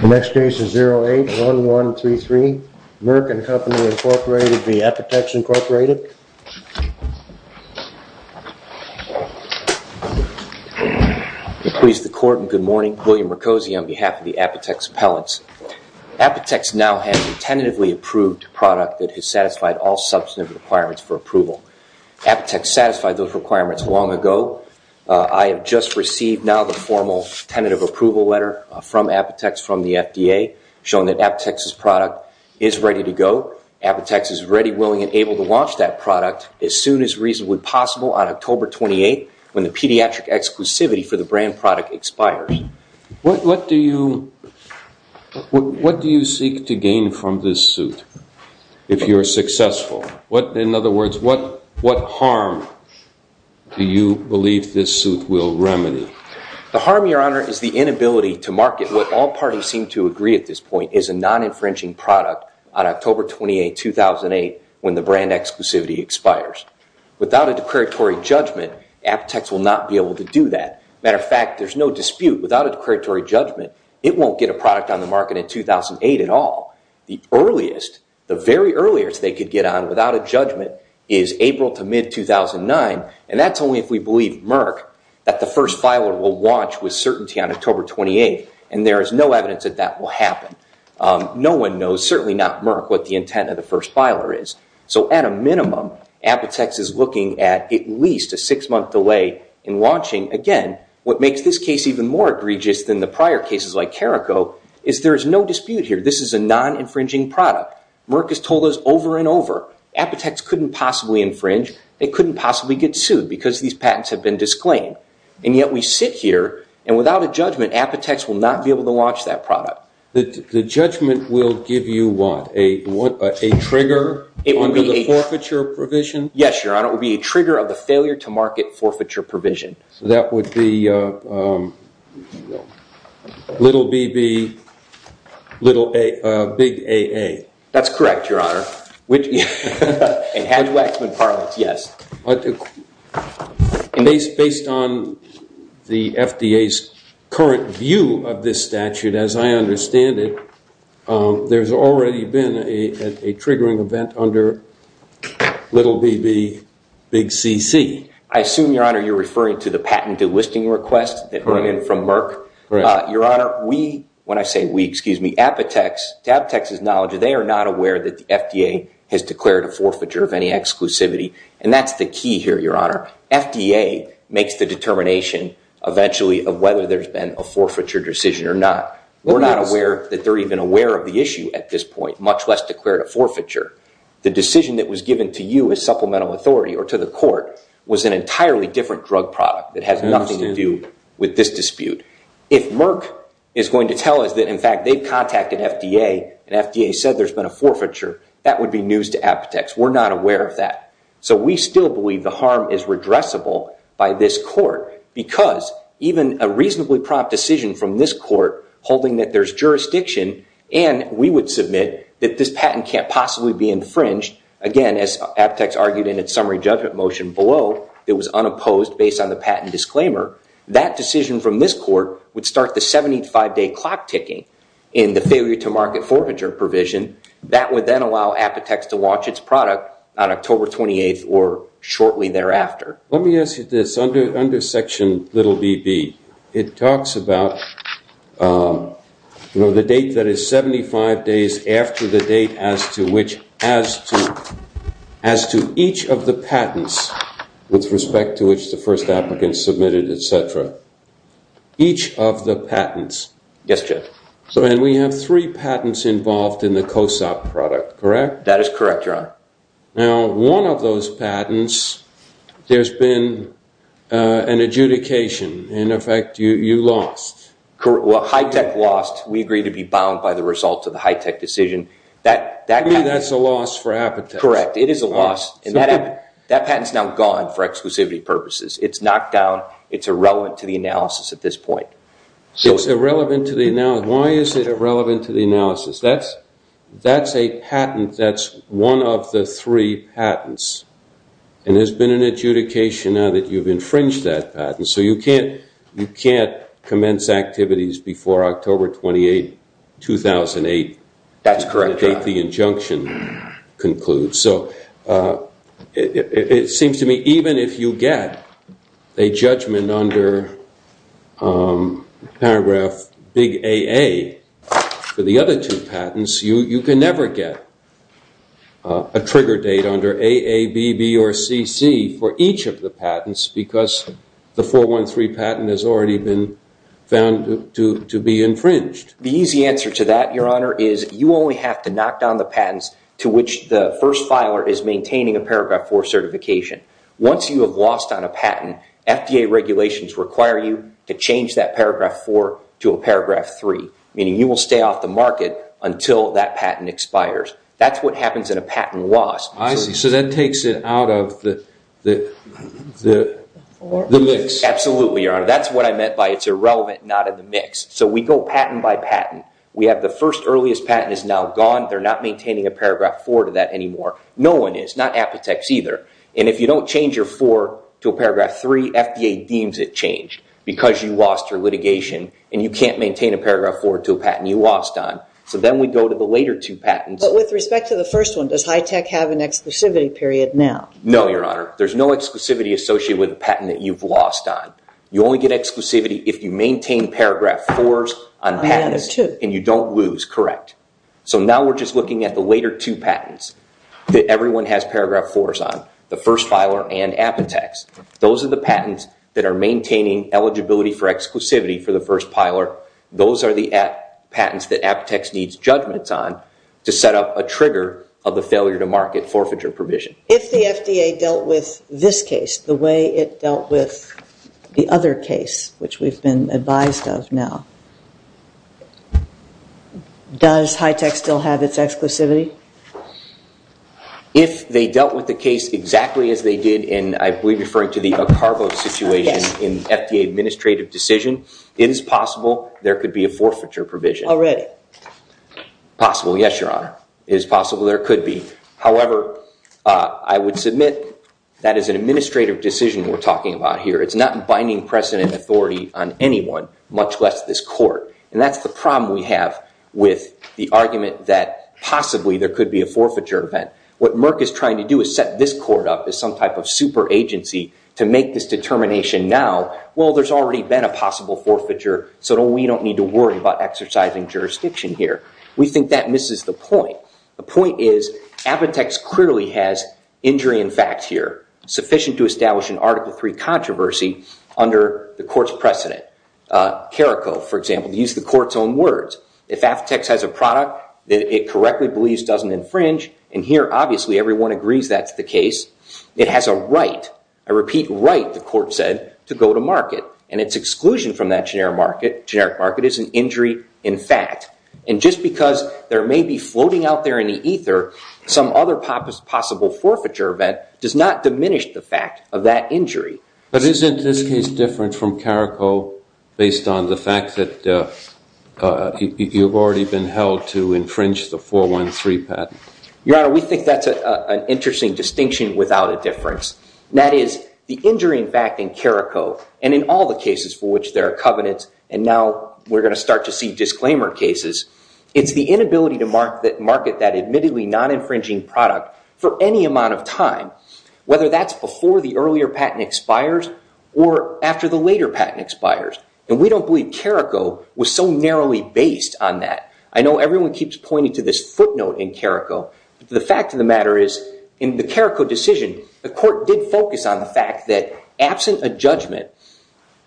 The next case is 081133, Merck and Company Incorporated v. Apotex Incorporated. Good morning. I'm William Mercozzi on behalf of the Apotex appellants. Apotex now has tentatively approved product that has satisfied all substantive requirements for approval. Apotex satisfied those requirements long ago. I have just received now the formal tentative approval letter from Apotex from the FDA showing that Apotex's product is ready to go. Apotex is ready, willing, and able to launch that product as soon as reasonably possible on October 28th when the pediatric exclusivity for the brand product expires. What do you seek to gain from this suit if you are successful? In other words, what harm do you believe this suit will remedy? The harm, Your Honor, is the inability to market what all parties seem to agree at this point is a non-infringing product on October 28, 2008 when the brand exclusivity expires. Without a declaratory judgment, Apotex will not be able to do that. As a matter of fact, there's no dispute. Without a declaratory judgment, it won't get a product on the market in 2008 at all. The earliest, the very earliest they could get on without a judgment is April to mid-2009, and that's only if we believe Merck that the first filer will launch with certainty on October 28th, and there is no evidence that that will happen. No one knows, certainly not Merck, what the intent of the first filer is. So at a minimum, Apotex is looking at at least a six-month delay in launching. Again, what makes this case even more egregious than the prior cases like Carrico is there is no dispute here. This is a non-infringing product. Merck has told us over and over, Apotex couldn't possibly infringe. They couldn't possibly get sued because these patents have been disclaimed. And yet we sit here, and without a judgment, Apotex will not be able to launch that product. The judgment will give you what? A trigger under the forfeiture provision? Yes, Your Honor. It will be a trigger of the failure-to-market forfeiture provision. So that would be little BB, big AA. That's correct, Your Honor. And Hatch-Waxman parlance, yes. But based on the FDA's current view of this statute, as I understand it, there's already been a triggering event under little BB, big CC. I assume, Your Honor, you're referring to the patented listing request that came in from Merck. Your Honor, we, when I say we, Apotex, to Apotex's knowledge, they are not FDA has declared a forfeiture of any exclusivity. And that's the key here, Your Honor. FDA makes the determination eventually of whether there's been a forfeiture decision or not. We're not aware that they're even aware of the issue at this point, much less declared a forfeiture. The decision that was given to you as supplemental authority or to the court was an entirely different drug product that has nothing to do with this dispute. If Merck is going to tell us that, in fact, they've contacted FDA and FDA said there's been a forfeiture, that would be news to Apotex. We're not aware of that. So we still believe the harm is redressable by this court because even a reasonably prompt decision from this court holding that there's jurisdiction and we would submit that this patent can't possibly be infringed, again, as Apotex argued in its summary judgment motion below, it was unopposed based on the patent disclaimer, that decision from this court would start the 75-day clock ticking in the failure to market forfeiture provision. That would then allow Apotex to launch its product on October 28th or shortly thereafter. Let me ask you this. Under section little bb, it talks about the date that is 75 days after the date as to each of the patents with respect to which the first applicant submitted, etc. Each of the patents. Yes, Judge. And we have three patents involved in the COSOP product, correct? That is correct, Your Honor. Now, one of those patents, there's been an adjudication. In effect, you lost. Well, high-tech lost. We agree to be bound by the result of the high-tech decision. That means that's a loss for Apotex. Correct. It is a loss. And that patent's now gone for exclusivity purposes. It's knocked down. It's irrelevant to the analysis at this point. It's irrelevant to the analysis. Why is it irrelevant to the analysis? That's a patent that's one of the three patents. And there's been an adjudication now that you've infringed that patent. So you can't commence activities before October 28, 2008. That's correct, Your Honor. The date the injunction concludes. So it seems to me even if you get a judgment under paragraph big AA for the other two patents, you can never get a trigger date under AA, BB, or CC for each of the patents because the 413 patent has already been found to be infringed. The easy answer to that, Your Honor, is you only have to knock down the patents to which the first filer is maintaining a paragraph 4 certification. Once you have lost on a patent, FDA regulations require you to change that paragraph 4 to a paragraph 3, meaning you will stay off the market until that patent expires. That's what happens in a patent loss. I see. So that takes it out of the mix. Absolutely, Your Honor. That's what I meant by it's irrelevant, not in the mix. So we go patent by patent. We have the first earliest patent is now gone. They're not maintaining a paragraph 4 to that anymore. No one is, not Apotex either. And if you don't change your 4 to a paragraph 3, FDA deems it changed because you lost your litigation and you can't maintain a paragraph 4 to a patent you lost on. So then we go to the later two patents. But with respect to the first one, does HITECH have an exclusivity period now? No, Your Honor. There's no exclusivity associated with a patent that you've lost on. You only get exclusivity if you maintain paragraph 4s on patents and you don't lose, correct. So now we're just looking at the later two patents that everyone has paragraph 4s on, the first filer and Apotex. Those are the patents that are maintaining eligibility for exclusivity for the first filer. Those are the patents that Apotex needs judgments on to set up a trigger of the failure to market forfeiture provision. If the FDA dealt with this case the way it advised of now, does HITECH still have its exclusivity? If they dealt with the case exactly as they did in, I believe you're referring to the Acarvo situation in FDA administrative decision, it is possible there could be a forfeiture provision. Already? Possible, yes, Your Honor. It is possible there could be. However, I would submit that is an unprecedented authority on anyone, much less this court. And that's the problem we have with the argument that possibly there could be a forfeiture event. What Merck is trying to do is set this court up as some type of super agency to make this determination now, well, there's already been a possible forfeiture, so we don't need to worry about exercising jurisdiction here. We think that misses the point. The point is Apotex clearly has injury in fact here, sufficient to establish an Article III controversy under the court's precedent. Carrico, for example, used the court's own words. If Apotex has a product that it correctly believes doesn't infringe, and here obviously everyone agrees that's the case, it has a right, a repeat right, the court said, to go to market. And its exclusion from that generic market is an injury in fact. And just because there may be floating out there in the ether, some other possible forfeiture event does not diminish the fact of that injury. But isn't this case different from Carrico based on the fact that you've already been held to infringe the 413 patent? Your Honor, we think that's an interesting distinction without a difference. That is, the injury in fact in Carrico, and in all the cases for which there are covenants, and now we're going to start to see disclaimer cases, it's the inability to market that admittedly non-infringing product for any amount of time, whether that's before the earlier patent expires or after the later patent expires. And we don't believe Carrico was so narrowly based on that. I know everyone keeps pointing to this footnote in Carrico. The fact of the matter is in the Carrico decision, the court did focus on the fact that absent a judgment,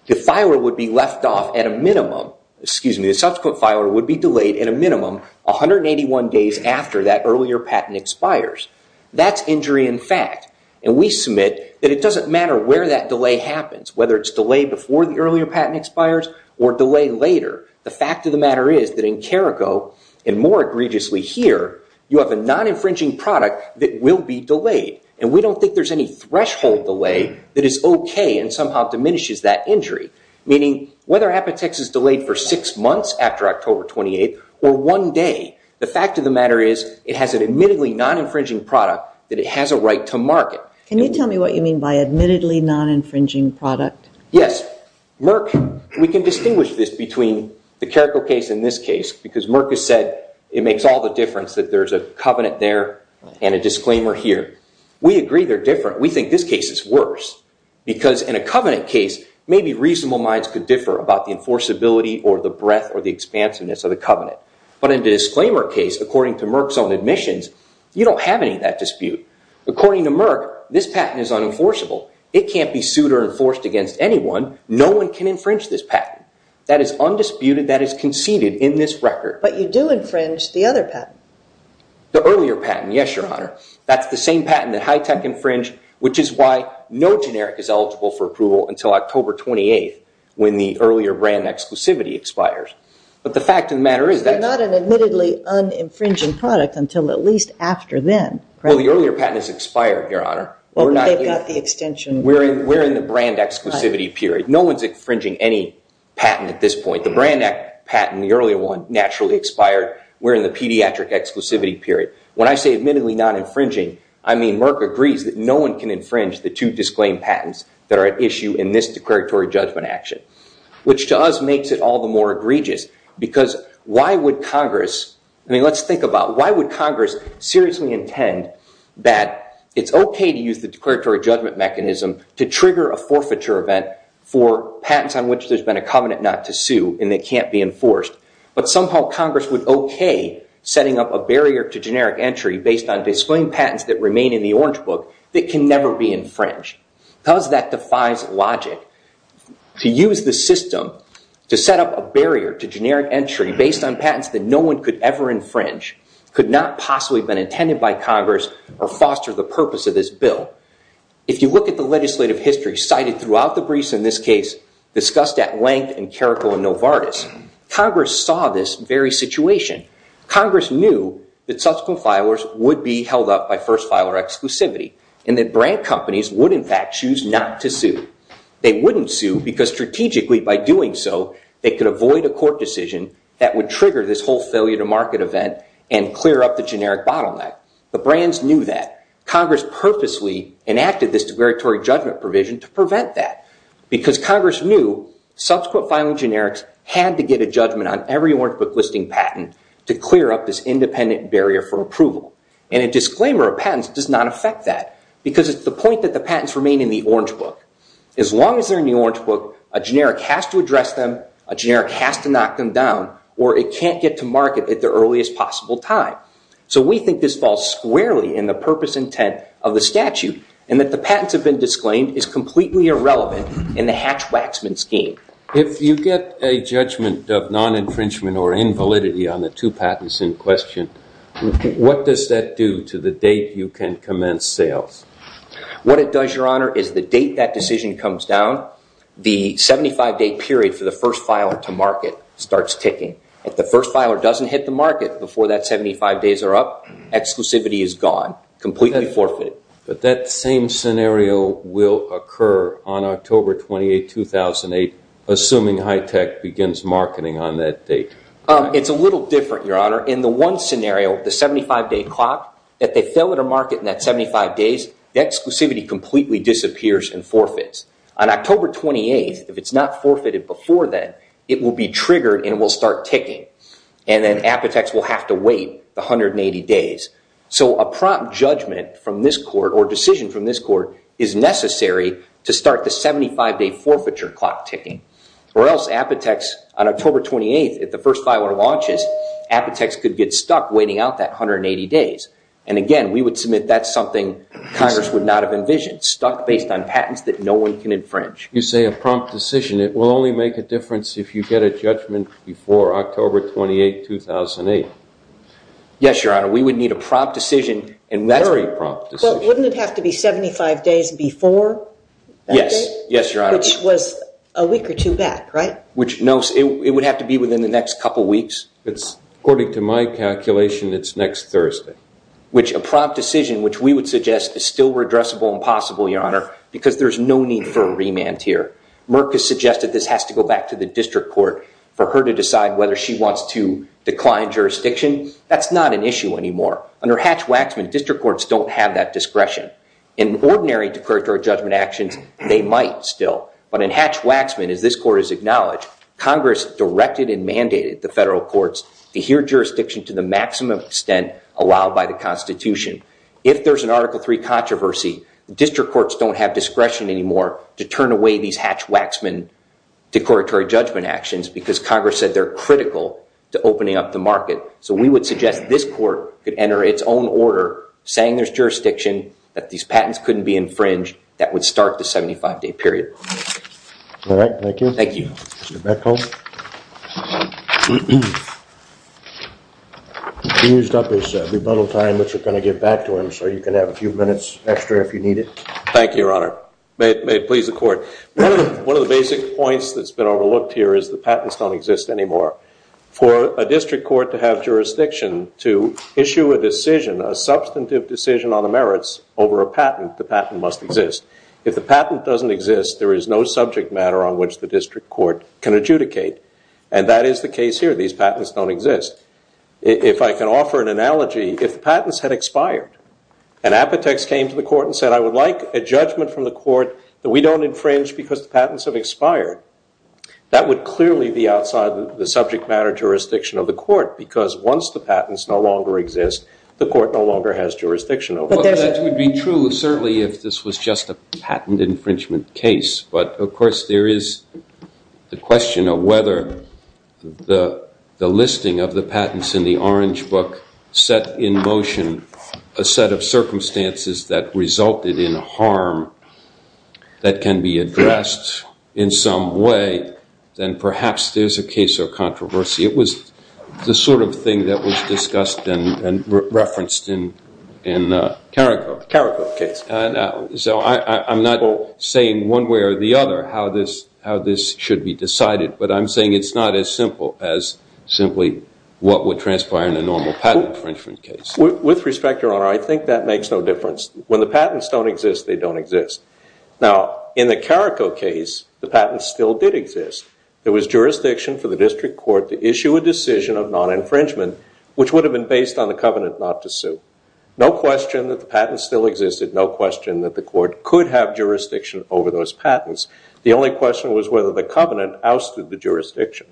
the filer would be left off at a minimum, excuse me, the subsequent filer would be delayed at a minimum 181 days after that earlier patent expires. That's injury in fact. And we submit that it doesn't matter where that delay happens, whether it's delayed before the earlier patent expires or delayed later. The fact of the matter is that in Carrico, and more egregiously here, you have a non-infringing product that will be delayed. And we don't think there's any threshold delay that is okay and somehow diminishes that injury. Meaning whether Apotex is delayed for six months after October 28th or one day, the fact of the matter is it has an admittedly non-infringing product that it has a right to market. Can you tell me what you mean by admittedly non-infringing product? Yes. Merck, we can distinguish this between the Carrico case and this case because Merck has said it makes all the difference that there's a covenant there and a disclaimer here. We agree they're different. We think this case is worse because in a covenant case, maybe reasonable minds could differ about the enforceability or the breadth or the expansiveness of the covenant. But in the disclaimer case, according to Merck's own admissions, you don't have any of that dispute. According to Merck, this patent is unenforceable. It can't be sued or enforced against anyone. No one can infringe this patent. That is undisputed. That is conceded in this record. But you do infringe the other patent. The earlier patent, yes, Your Honor. That's the same patent that Hitech infringed, which is why no generic is eligible for approval until October 28th when the earlier brand exclusivity expires. But the fact of the matter is that- They're not an admittedly un-infringing product until at least after then, correct? Well, the earlier patent has expired, Your Honor. Well, but they've got the extension. We're in the brand exclusivity period. No one's infringing any patent at this point. The brand patent, the earlier one, naturally expired. We're in the pediatric exclusivity period. When I say admittedly non-infringing, I mean Merck agrees that no one can infringe the two disclaimed patents that are at issue in this declaratory judgment action, which to us makes it all the more egregious. Because why would Congress- I mean, let's think about why would Congress seriously intend that it's okay to use the declaratory judgment mechanism to trigger a forfeiture event for a patent that's at issue and that can't be enforced. But somehow Congress would okay setting up a barrier to generic entry based on disclaimed patents that remain in the Orange Book that can never be infringed. Because that defies logic. To use the system to set up a barrier to generic entry based on patents that no one could ever infringe could not possibly have been intended by Congress or foster the purpose of this bill. If you look at the legislative history cited throughout the briefs in this case discussed at length in Caracol and Novartis, Congress saw this very situation. Congress knew that subsequent filers would be held up by first filer exclusivity and that brand companies would in fact choose not to sue. They wouldn't sue because strategically by doing so they could avoid a court decision that would trigger this whole failure to market event and clear up the generic bottleneck. The brands knew that. Congress purposely enacted this declaratory judgment provision to prevent that because Congress knew subsequent filing generics had to get a judgment on every Orange Book listing patent to clear up this independent barrier for approval. And a disclaimer of patents does not affect that because it's the point that the patents remain in the Orange Book. As long as they're in the Orange Book, a generic has to address them, a generic has to knock them down, or it can't get to market at the earliest possible time. So we think this falls squarely in the purpose intent of the statute and that the patents have been disclaimed is completely irrelevant in the Hatch-Waxman scheme. If you get a judgment of non-infringement or invalidity on the two patents in question, what does that do to the date you can commence sales? What it does, Your Honor, is the date that decision comes down, the 75-day period for the first filer to market starts ticking. If the first filer doesn't hit the market before that 75 days are up, exclusivity is gone, completely forfeited. But that same scenario will occur on October 28, 2008, assuming HITECH begins marketing on that date. It's a little different, Your Honor. In the one scenario, the 75-day clock, if they fail to market in that 75 days, the exclusivity completely disappears and forfeits. On October 28, if it's not forfeited before then, it will be triggered and it will start ticking. And then APOTEX will have to wait the 180 days. So a prompt judgment from this court or decision from this court is necessary to start the 75-day forfeiture clock ticking. Or else APOTEX, on October 28, if the first filer launches, APOTEX could get stuck waiting out that 180 days. And again, we would submit that's something Congress would not have envisioned, You say a prompt decision. It will only make a difference if you get a judgment before October 28, 2008. Yes, Your Honor. We would need a prompt decision. And that's a very prompt decision. Well, wouldn't it have to be 75 days before that date? Yes. Yes, Your Honor. Which was a week or two back, right? Which no, it would have to be within the next couple weeks. It's according to my calculation, it's next Thursday. Because there's no need for a remand here. Murk has suggested this has to go back to the district court for her to decide whether she wants to decline jurisdiction. That's not an issue anymore. Under Hatch-Waxman, district courts don't have that discretion. In ordinary declaratory judgment actions, they might still. But in Hatch-Waxman, as this court has acknowledged, Congress directed and mandated the federal courts to hear jurisdiction to the maximum extent allowed by the Constitution. If there's an Article III controversy, district courts don't have discretion anymore to turn away these Hatch-Waxman declaratory judgment actions because Congress said they're critical to opening up the market. So we would suggest this court could enter its own order saying there's jurisdiction, that these patents couldn't be infringed, that would start the 75-day period. All right. Thank you. Thank you. Mr. Beckholz. He used up his rebuttal time, which we're going to give back to him. So you can have a few minutes extra if you need it. Thank you, Your Honor. May it please the Court. One of the basic points that's been overlooked here is the patents don't exist anymore. For a district court to have jurisdiction to issue a decision, a substantive decision on the merits over a patent, the patent must exist. If the patent doesn't exist, there is no subject matter on which the district court can adjudicate. And that is the case here. These patents don't exist. If I can offer an analogy, if the patents had expired and Apotex came to the court and said, I would like a judgment from the court that we don't infringe because the patents have expired, that would clearly be outside the subject matter jurisdiction of the court because once the patents no longer exist, the court no longer has jurisdiction over them. That would be true, certainly, if this was just a patent infringement case. But of course, there is the question of whether the listing of the patents in the Orange Book set in motion a set of circumstances that resulted in harm that can be addressed in some way, then perhaps there's a case or controversy. It was the sort of thing that was discussed and referenced in Carrico. Carrico case. So I'm not saying one way or the other how this should be decided, but I'm saying it's not as simple as simply what would transpire in a normal patent infringement case. With respect, Your Honor, I think that makes no difference. When the patents don't exist, they don't exist. Now in the Carrico case, the patents still did exist. There was jurisdiction for the district court to issue a decision of non-infringement, which would have been based on the covenant not to sue. No question that the patents still existed. No question that the court could have jurisdiction over those patents. The only question was whether the covenant ousted the jurisdiction.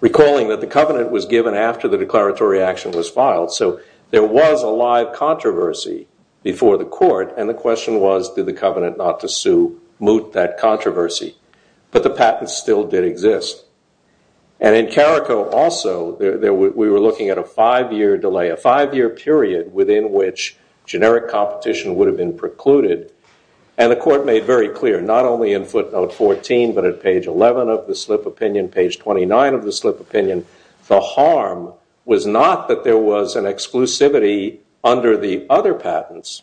Recalling that the covenant was given after the declaratory action was filed, so there was a live controversy before the court. And the question was, did the covenant not to sue moot that controversy? But the patents still did exist. And in Carrico also, we were looking at a five-year delay, a five-year period within which generic competition would have been precluded. And the court made very clear, not only in footnote 14, but at page 11 of the slip opinion, page 29 of the slip opinion, the harm was not that there was an exclusivity under the other patents,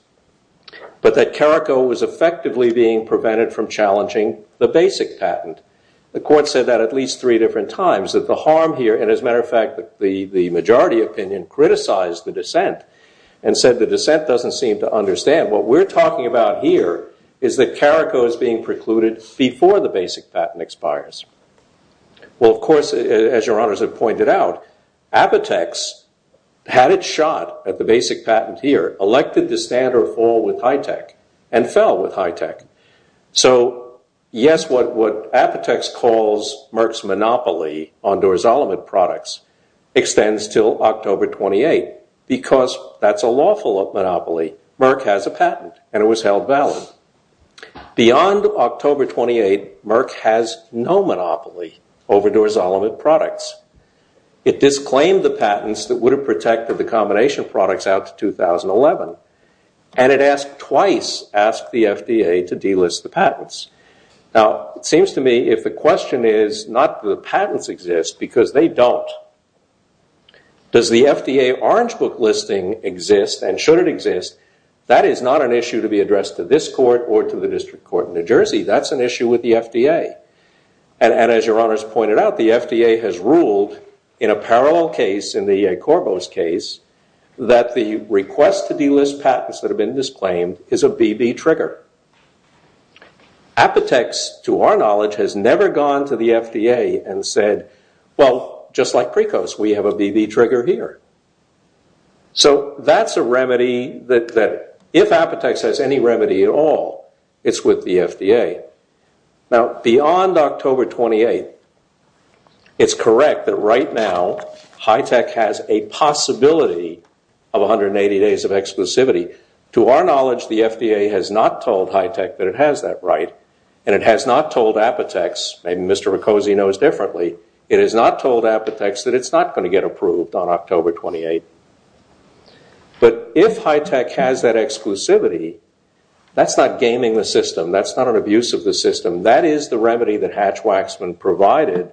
but that Carrico was effectively being prevented from challenging the basic patent. The court said that at least three different times, that the harm here, and as a matter of fact, the majority opinion criticized the dissent and said the dissent doesn't seem to understand. What we're talking about here is that Carrico is being precluded before the basic patent expires. Well, of course, as your honors have pointed out, Apotex had its shot at the basic patent here, elected to stand or fall with HITECH, and fell with HITECH. So yes, what Apotex calls Merck's monopoly on Dorzolomit products extends till October 28, because that's a lawful monopoly. Merck has a patent, and it was held valid. Beyond October 28, Merck has no monopoly over Dorzolomit products. It disclaimed the patents that would have protected the combination products out to Now, it seems to me if the question is not the patents exist, because they don't, does the FDA orange book listing exist, and should it exist, that is not an issue to be addressed to this court or to the district court in New Jersey. That's an issue with the FDA. And as your honors pointed out, the FDA has ruled in a parallel case, in the Corbo's case, that the request to delist patents that have been disclaimed is a BB trigger. Apotex, to our knowledge, has never gone to the FDA and said, well, just like Precos, we have a BB trigger here. So that's a remedy that if Apotex has any remedy at all, it's with the FDA. Now, beyond October 28, it's correct that right now, HITECH has a possibility of 180 days of exclusivity. To our knowledge, the FDA has not told HITECH that it has that right, and it has not told Apotex, maybe Mr. Precosi knows differently, it has not told Apotex that it's not going to get approved on October 28. But if HITECH has that exclusivity, that's not gaming the system, that's not an abuse of the system. That is the remedy that Hatch-Waxman provided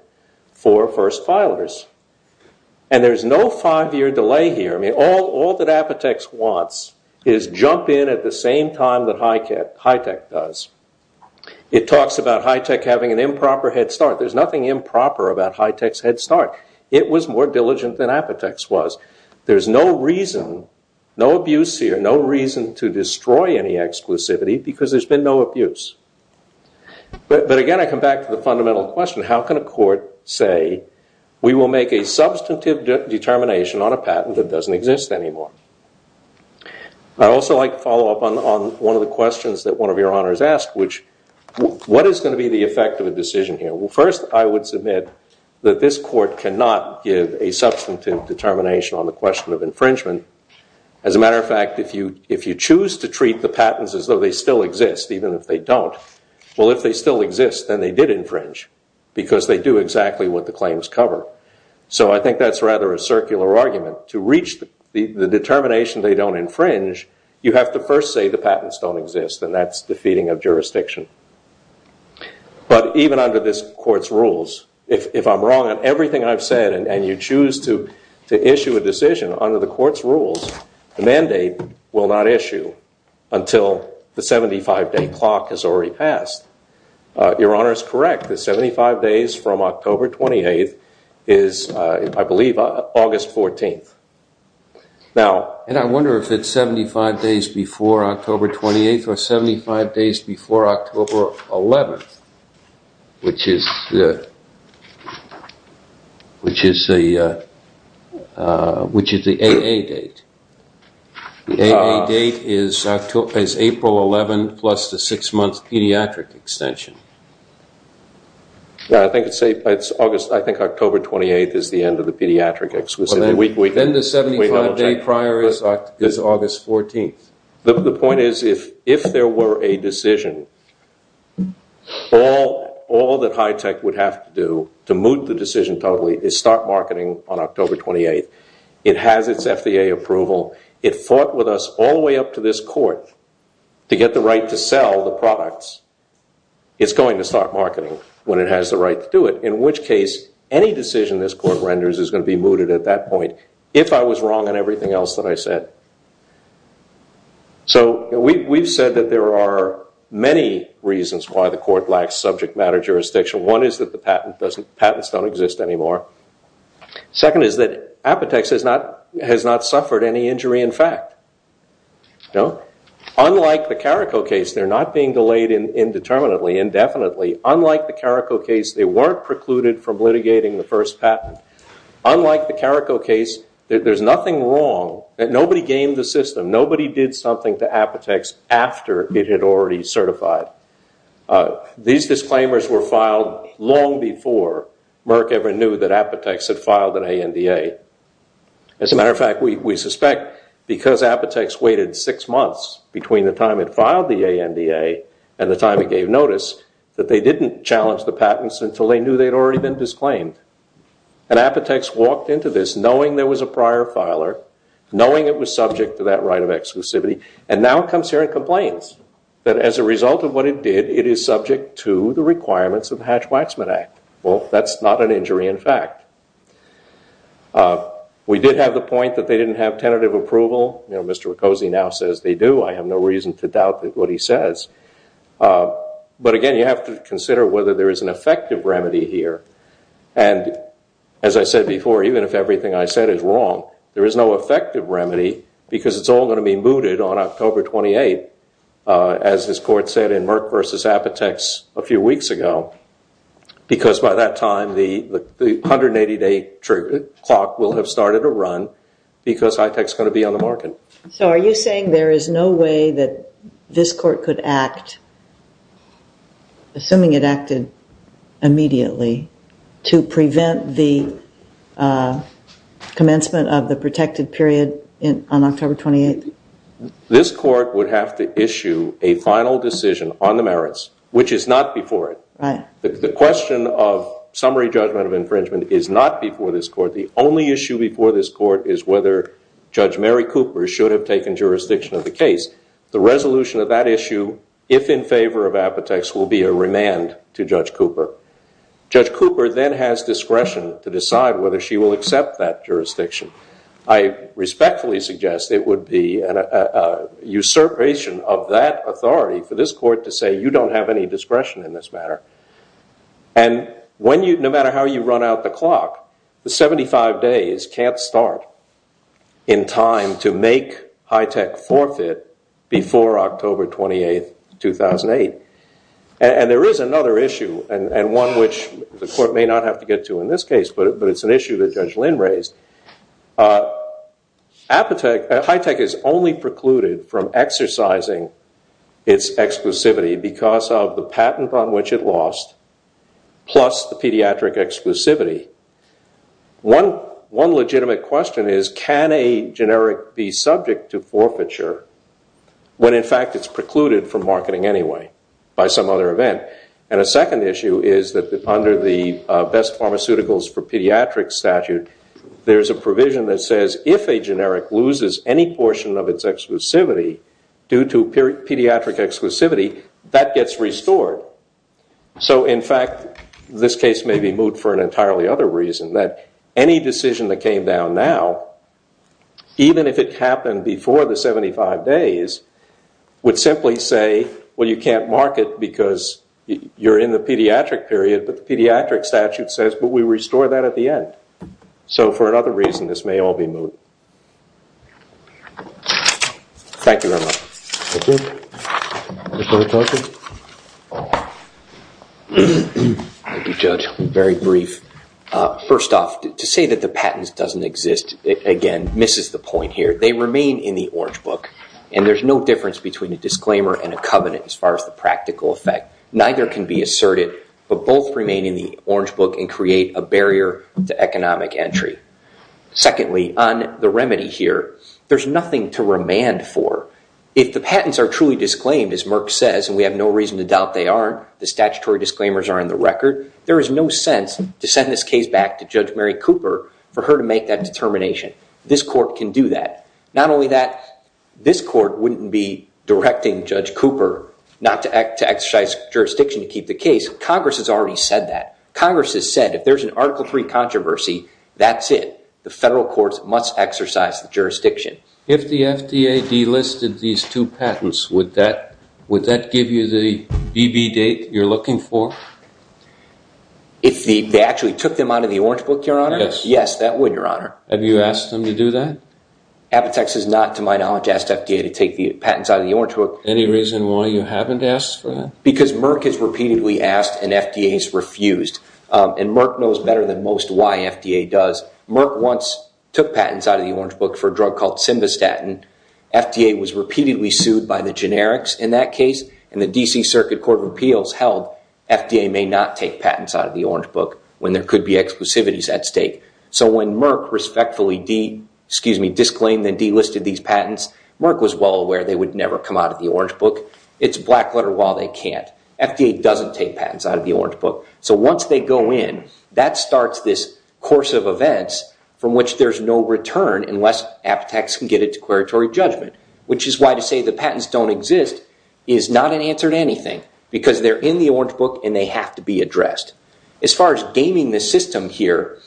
for first filers. And there's no five-year delay here. I mean, all that Apotex wants is jump in at the same time that HITECH does. It talks about HITECH having an improper head start. There's nothing improper about HITECH's head start. It was more diligent than Apotex was. There's no reason, no abuse here, no reason to destroy any exclusivity because there's been no abuse. But again, I come back to the fundamental question, how can a court say, we will make a substantive determination on a patent that doesn't exist anymore? I also like to follow up on one of the questions that one of your honors asked, which, what is going to be the effect of a decision here? First, I would submit that this court cannot give a substantive determination on the question of infringement. As a matter of fact, if you choose to treat the patents as though they still exist, even if they don't, well, if they still exist, then they did infringe because they do exactly what the claims cover. So I think that's rather a circular argument. To reach the determination they don't infringe, you have to first say the patents don't exist, and that's defeating of jurisdiction. But even under this court's rules, if I'm wrong on everything I've said, and you choose to issue a decision under the court's rules, the mandate will not issue until the 75-day clock has already passed. Your honor is correct. The 75 days from October 28th is, I believe, August 14th. And I wonder if it's 75 days before October 28th, or 75 days before October 11th, which is the AA date. The AA date is April 11th plus the six-month pediatric extension. I think it's August, I think October 28th is the end of the pediatric exquisite. Then the 75-day prior is August 14th. The point is, if there were a decision, all that high tech would have to do to moot the decision totally is start marketing on October 28th. It has its FDA approval. It fought with us all the way up to this court to get the right to sell the products. It's going to start marketing when it has the right to do it, in which case, any decision this court renders is going to be mooted at that point, if I was wrong in everything else that I said. So we've said that there are many reasons why the court lacks subject matter jurisdiction. One is that the patents don't exist anymore. Second is that Apotex has not suffered any injury in fact. Unlike the Carrico case, they're not being delayed indeterminately, indefinitely. Unlike the Carrico case, they weren't precluded from litigating the first patent. Unlike the Carrico case, there's nothing wrong. Nobody gamed the system. Nobody did something to Apotex after it had already certified. These disclaimers were filed long before Merck ever knew that Apotex had filed an ANDA. As a matter of fact, we suspect because Apotex waited six months between the time it filed the ANDA and the time it gave notice that they didn't challenge the patents until they knew they'd already been disclaimed. And Apotex walked into this knowing there was a prior filer, knowing it was subject to that right of exclusivity, and now comes here and complains that as a result of what it did, it is subject to the requirements of the Hatch-Waxman Act. Well, that's not an injury in fact. We did have the point that they didn't have tentative approval. Mr. Riccosi now says they do. I have no reason to doubt what he says. But again, you have to consider whether there is an effective remedy here. And as I said before, even if everything I said is wrong, there is no effective remedy because it's all going to be mooted on October 28, as this court said in Merck versus Apotex a few weeks ago. Because by that time, the 180-day clock will have started to run because Hitech's going to be on the market. So are you saying there is no way that this court could act, assuming it acted immediately, to prevent the commencement of the protected period on October 28? This court would have to issue a final decision on the merits, which is not before it. The question of summary judgment of infringement is not before this court. The only issue before this court is whether Judge Mary Cooper should have taken jurisdiction of the case. The resolution of that issue, if in favor of Apotex, will be a remand to Judge Cooper. Judge Cooper then has discretion to decide whether she will accept that jurisdiction. I respectfully suggest it would be an usurpation of that authority for this court to say, you don't have any discretion in this matter. And no matter how you run out the clock, the 75 days can't start in time to make Hitech forfeit before October 28, 2008. And there is another issue, and one which the court may not have to get to in this case, but it's an issue that Judge Lynn raised. Hitech has only precluded from exercising its exclusivity because of the patent on which it lost, plus the pediatric exclusivity. One legitimate question is, can a generic be subject to forfeiture when in fact it's precluded from marketing anyway by some other event? And a second issue is that under the best pharmaceuticals for pediatrics statute, there's a provision that says if a generic loses any portion of its exclusivity due to pediatric exclusivity, that gets restored. So in fact, this case may be moot for an entirely other reason, that any decision that came down now, even if it happened before the 75 days, would simply say, well, you can't market because you're in the pediatric period, but the pediatric statute says, but we restore that at the end. So for another reason, this may all be moot. Thank you very much. Thank you. Any further questions? Thank you, Judge. Very brief. First off, to say that the patents doesn't exist, again, misses the point here. They remain in the Orange Book, and there's no difference between a disclaimer and a covenant as far as the practical effect. Neither can be asserted, but both remain in the Orange Book and create a barrier to economic entry. Secondly, on the remedy here, there's nothing to remand for. If the patents are truly disclaimed, as Merck says, and we have no reason to doubt they are, the statutory disclaimers are in the record, there is no sense to send this case back to Judge Mary Cooper for her to make that determination. This court can do that. Not only that, this court wouldn't be directing Judge Cooper not to exercise jurisdiction to keep the case. Congress has already said that. Congress has said, if there's an Article III controversy, that's it. The federal courts must exercise the jurisdiction. If the FDA delisted these two patents, would that give you the BB date you're looking for? If they actually took them out of the Orange Book, Your Honor? Yes. Yes, that would, Your Honor. Have you asked them to do that? Apotex has not, to my knowledge, asked FDA to take the patents out of the Orange Book. Any reason why you haven't asked for that? Because Merck has repeatedly asked and FDA has refused. And Merck knows better than most why FDA does. Merck once took patents out of the Orange Book for a drug called Simvastatin. FDA was repeatedly sued by the generics in that case, and the DC Circuit Court of Appeals held FDA may not take patents out of the Orange Book when there could be exclusivities at stake. So when Merck respectfully disclaimed and delisted these patents, Merck was well aware they would never come out of the Orange Book. It's a black letter while they can't. FDA doesn't take patents out of the Orange Book. So once they go in, that starts this course of events from which there's no return unless Apotex can get its declaratory judgment, which is why to say the patents don't exist is not an answer to anything, because they're in the Orange Book and they have to be addressed. As far as gaming the system here,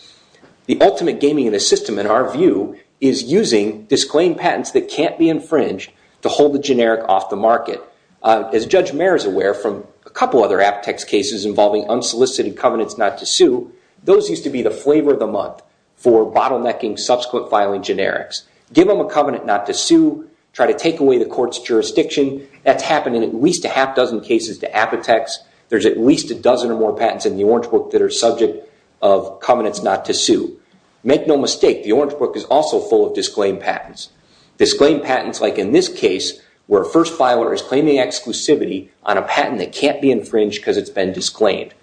the ultimate gaming of the system, in our view, is using disclaimed patents that can't be infringed to hold the generic off the market. As Judge Mayer is aware from a couple other Apotex cases involving unsolicited covenants not to sue, those used to be the flavor of the month for bottlenecking subsequent filing generics. Give them a covenant not to sue, try to take away the court's jurisdiction. That's happened in at least a half dozen cases to Apotex. There's at least a dozen or more patents in the Orange Book that are subject of covenants not to sue. Make no mistake, the Orange Book is also full of disclaimed patents, disclaimed patents like in this case where a first filer is claiming exclusivity on a patent that can't be infringed because it's been disclaimed.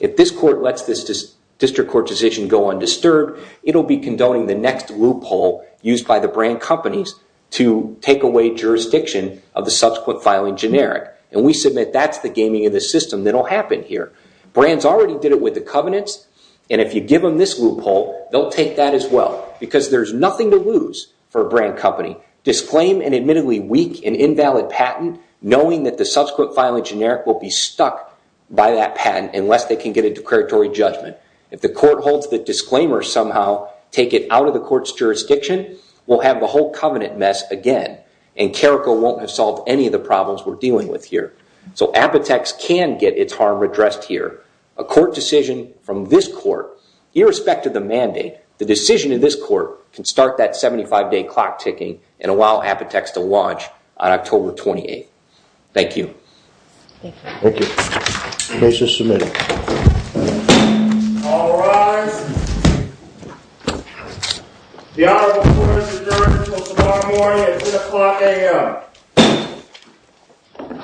If this court lets this district court decision go undisturbed, it'll be condoning the next loophole used by the brand companies to take away jurisdiction of the subsequent filing generic, and we submit that's the gaming of the system that'll happen here. Brands already did it with the covenants, and if you give them this loophole, they'll take that as well because there's nothing to lose for a brand company. Disclaim an admittedly weak and invalid patent knowing that the subsequent filing generic will be stuck by that patent unless they can get a declaratory judgment. If the court holds the disclaimer somehow, take it out of the court's jurisdiction, we'll have the whole covenant mess again, and CARICO won't have solved any of the problems we're dealing with here. So Apotex can get its harm addressed here. A court decision from this court, irrespective of the mandate, the decision of this court can start that 75-day clock ticking and allow Apotex to launch on October 28th. Thank you. Thank you. Thank you. Case is submitted. All rise. The honorable court is adjourned until tomorrow morning at 10 o'clock a.m.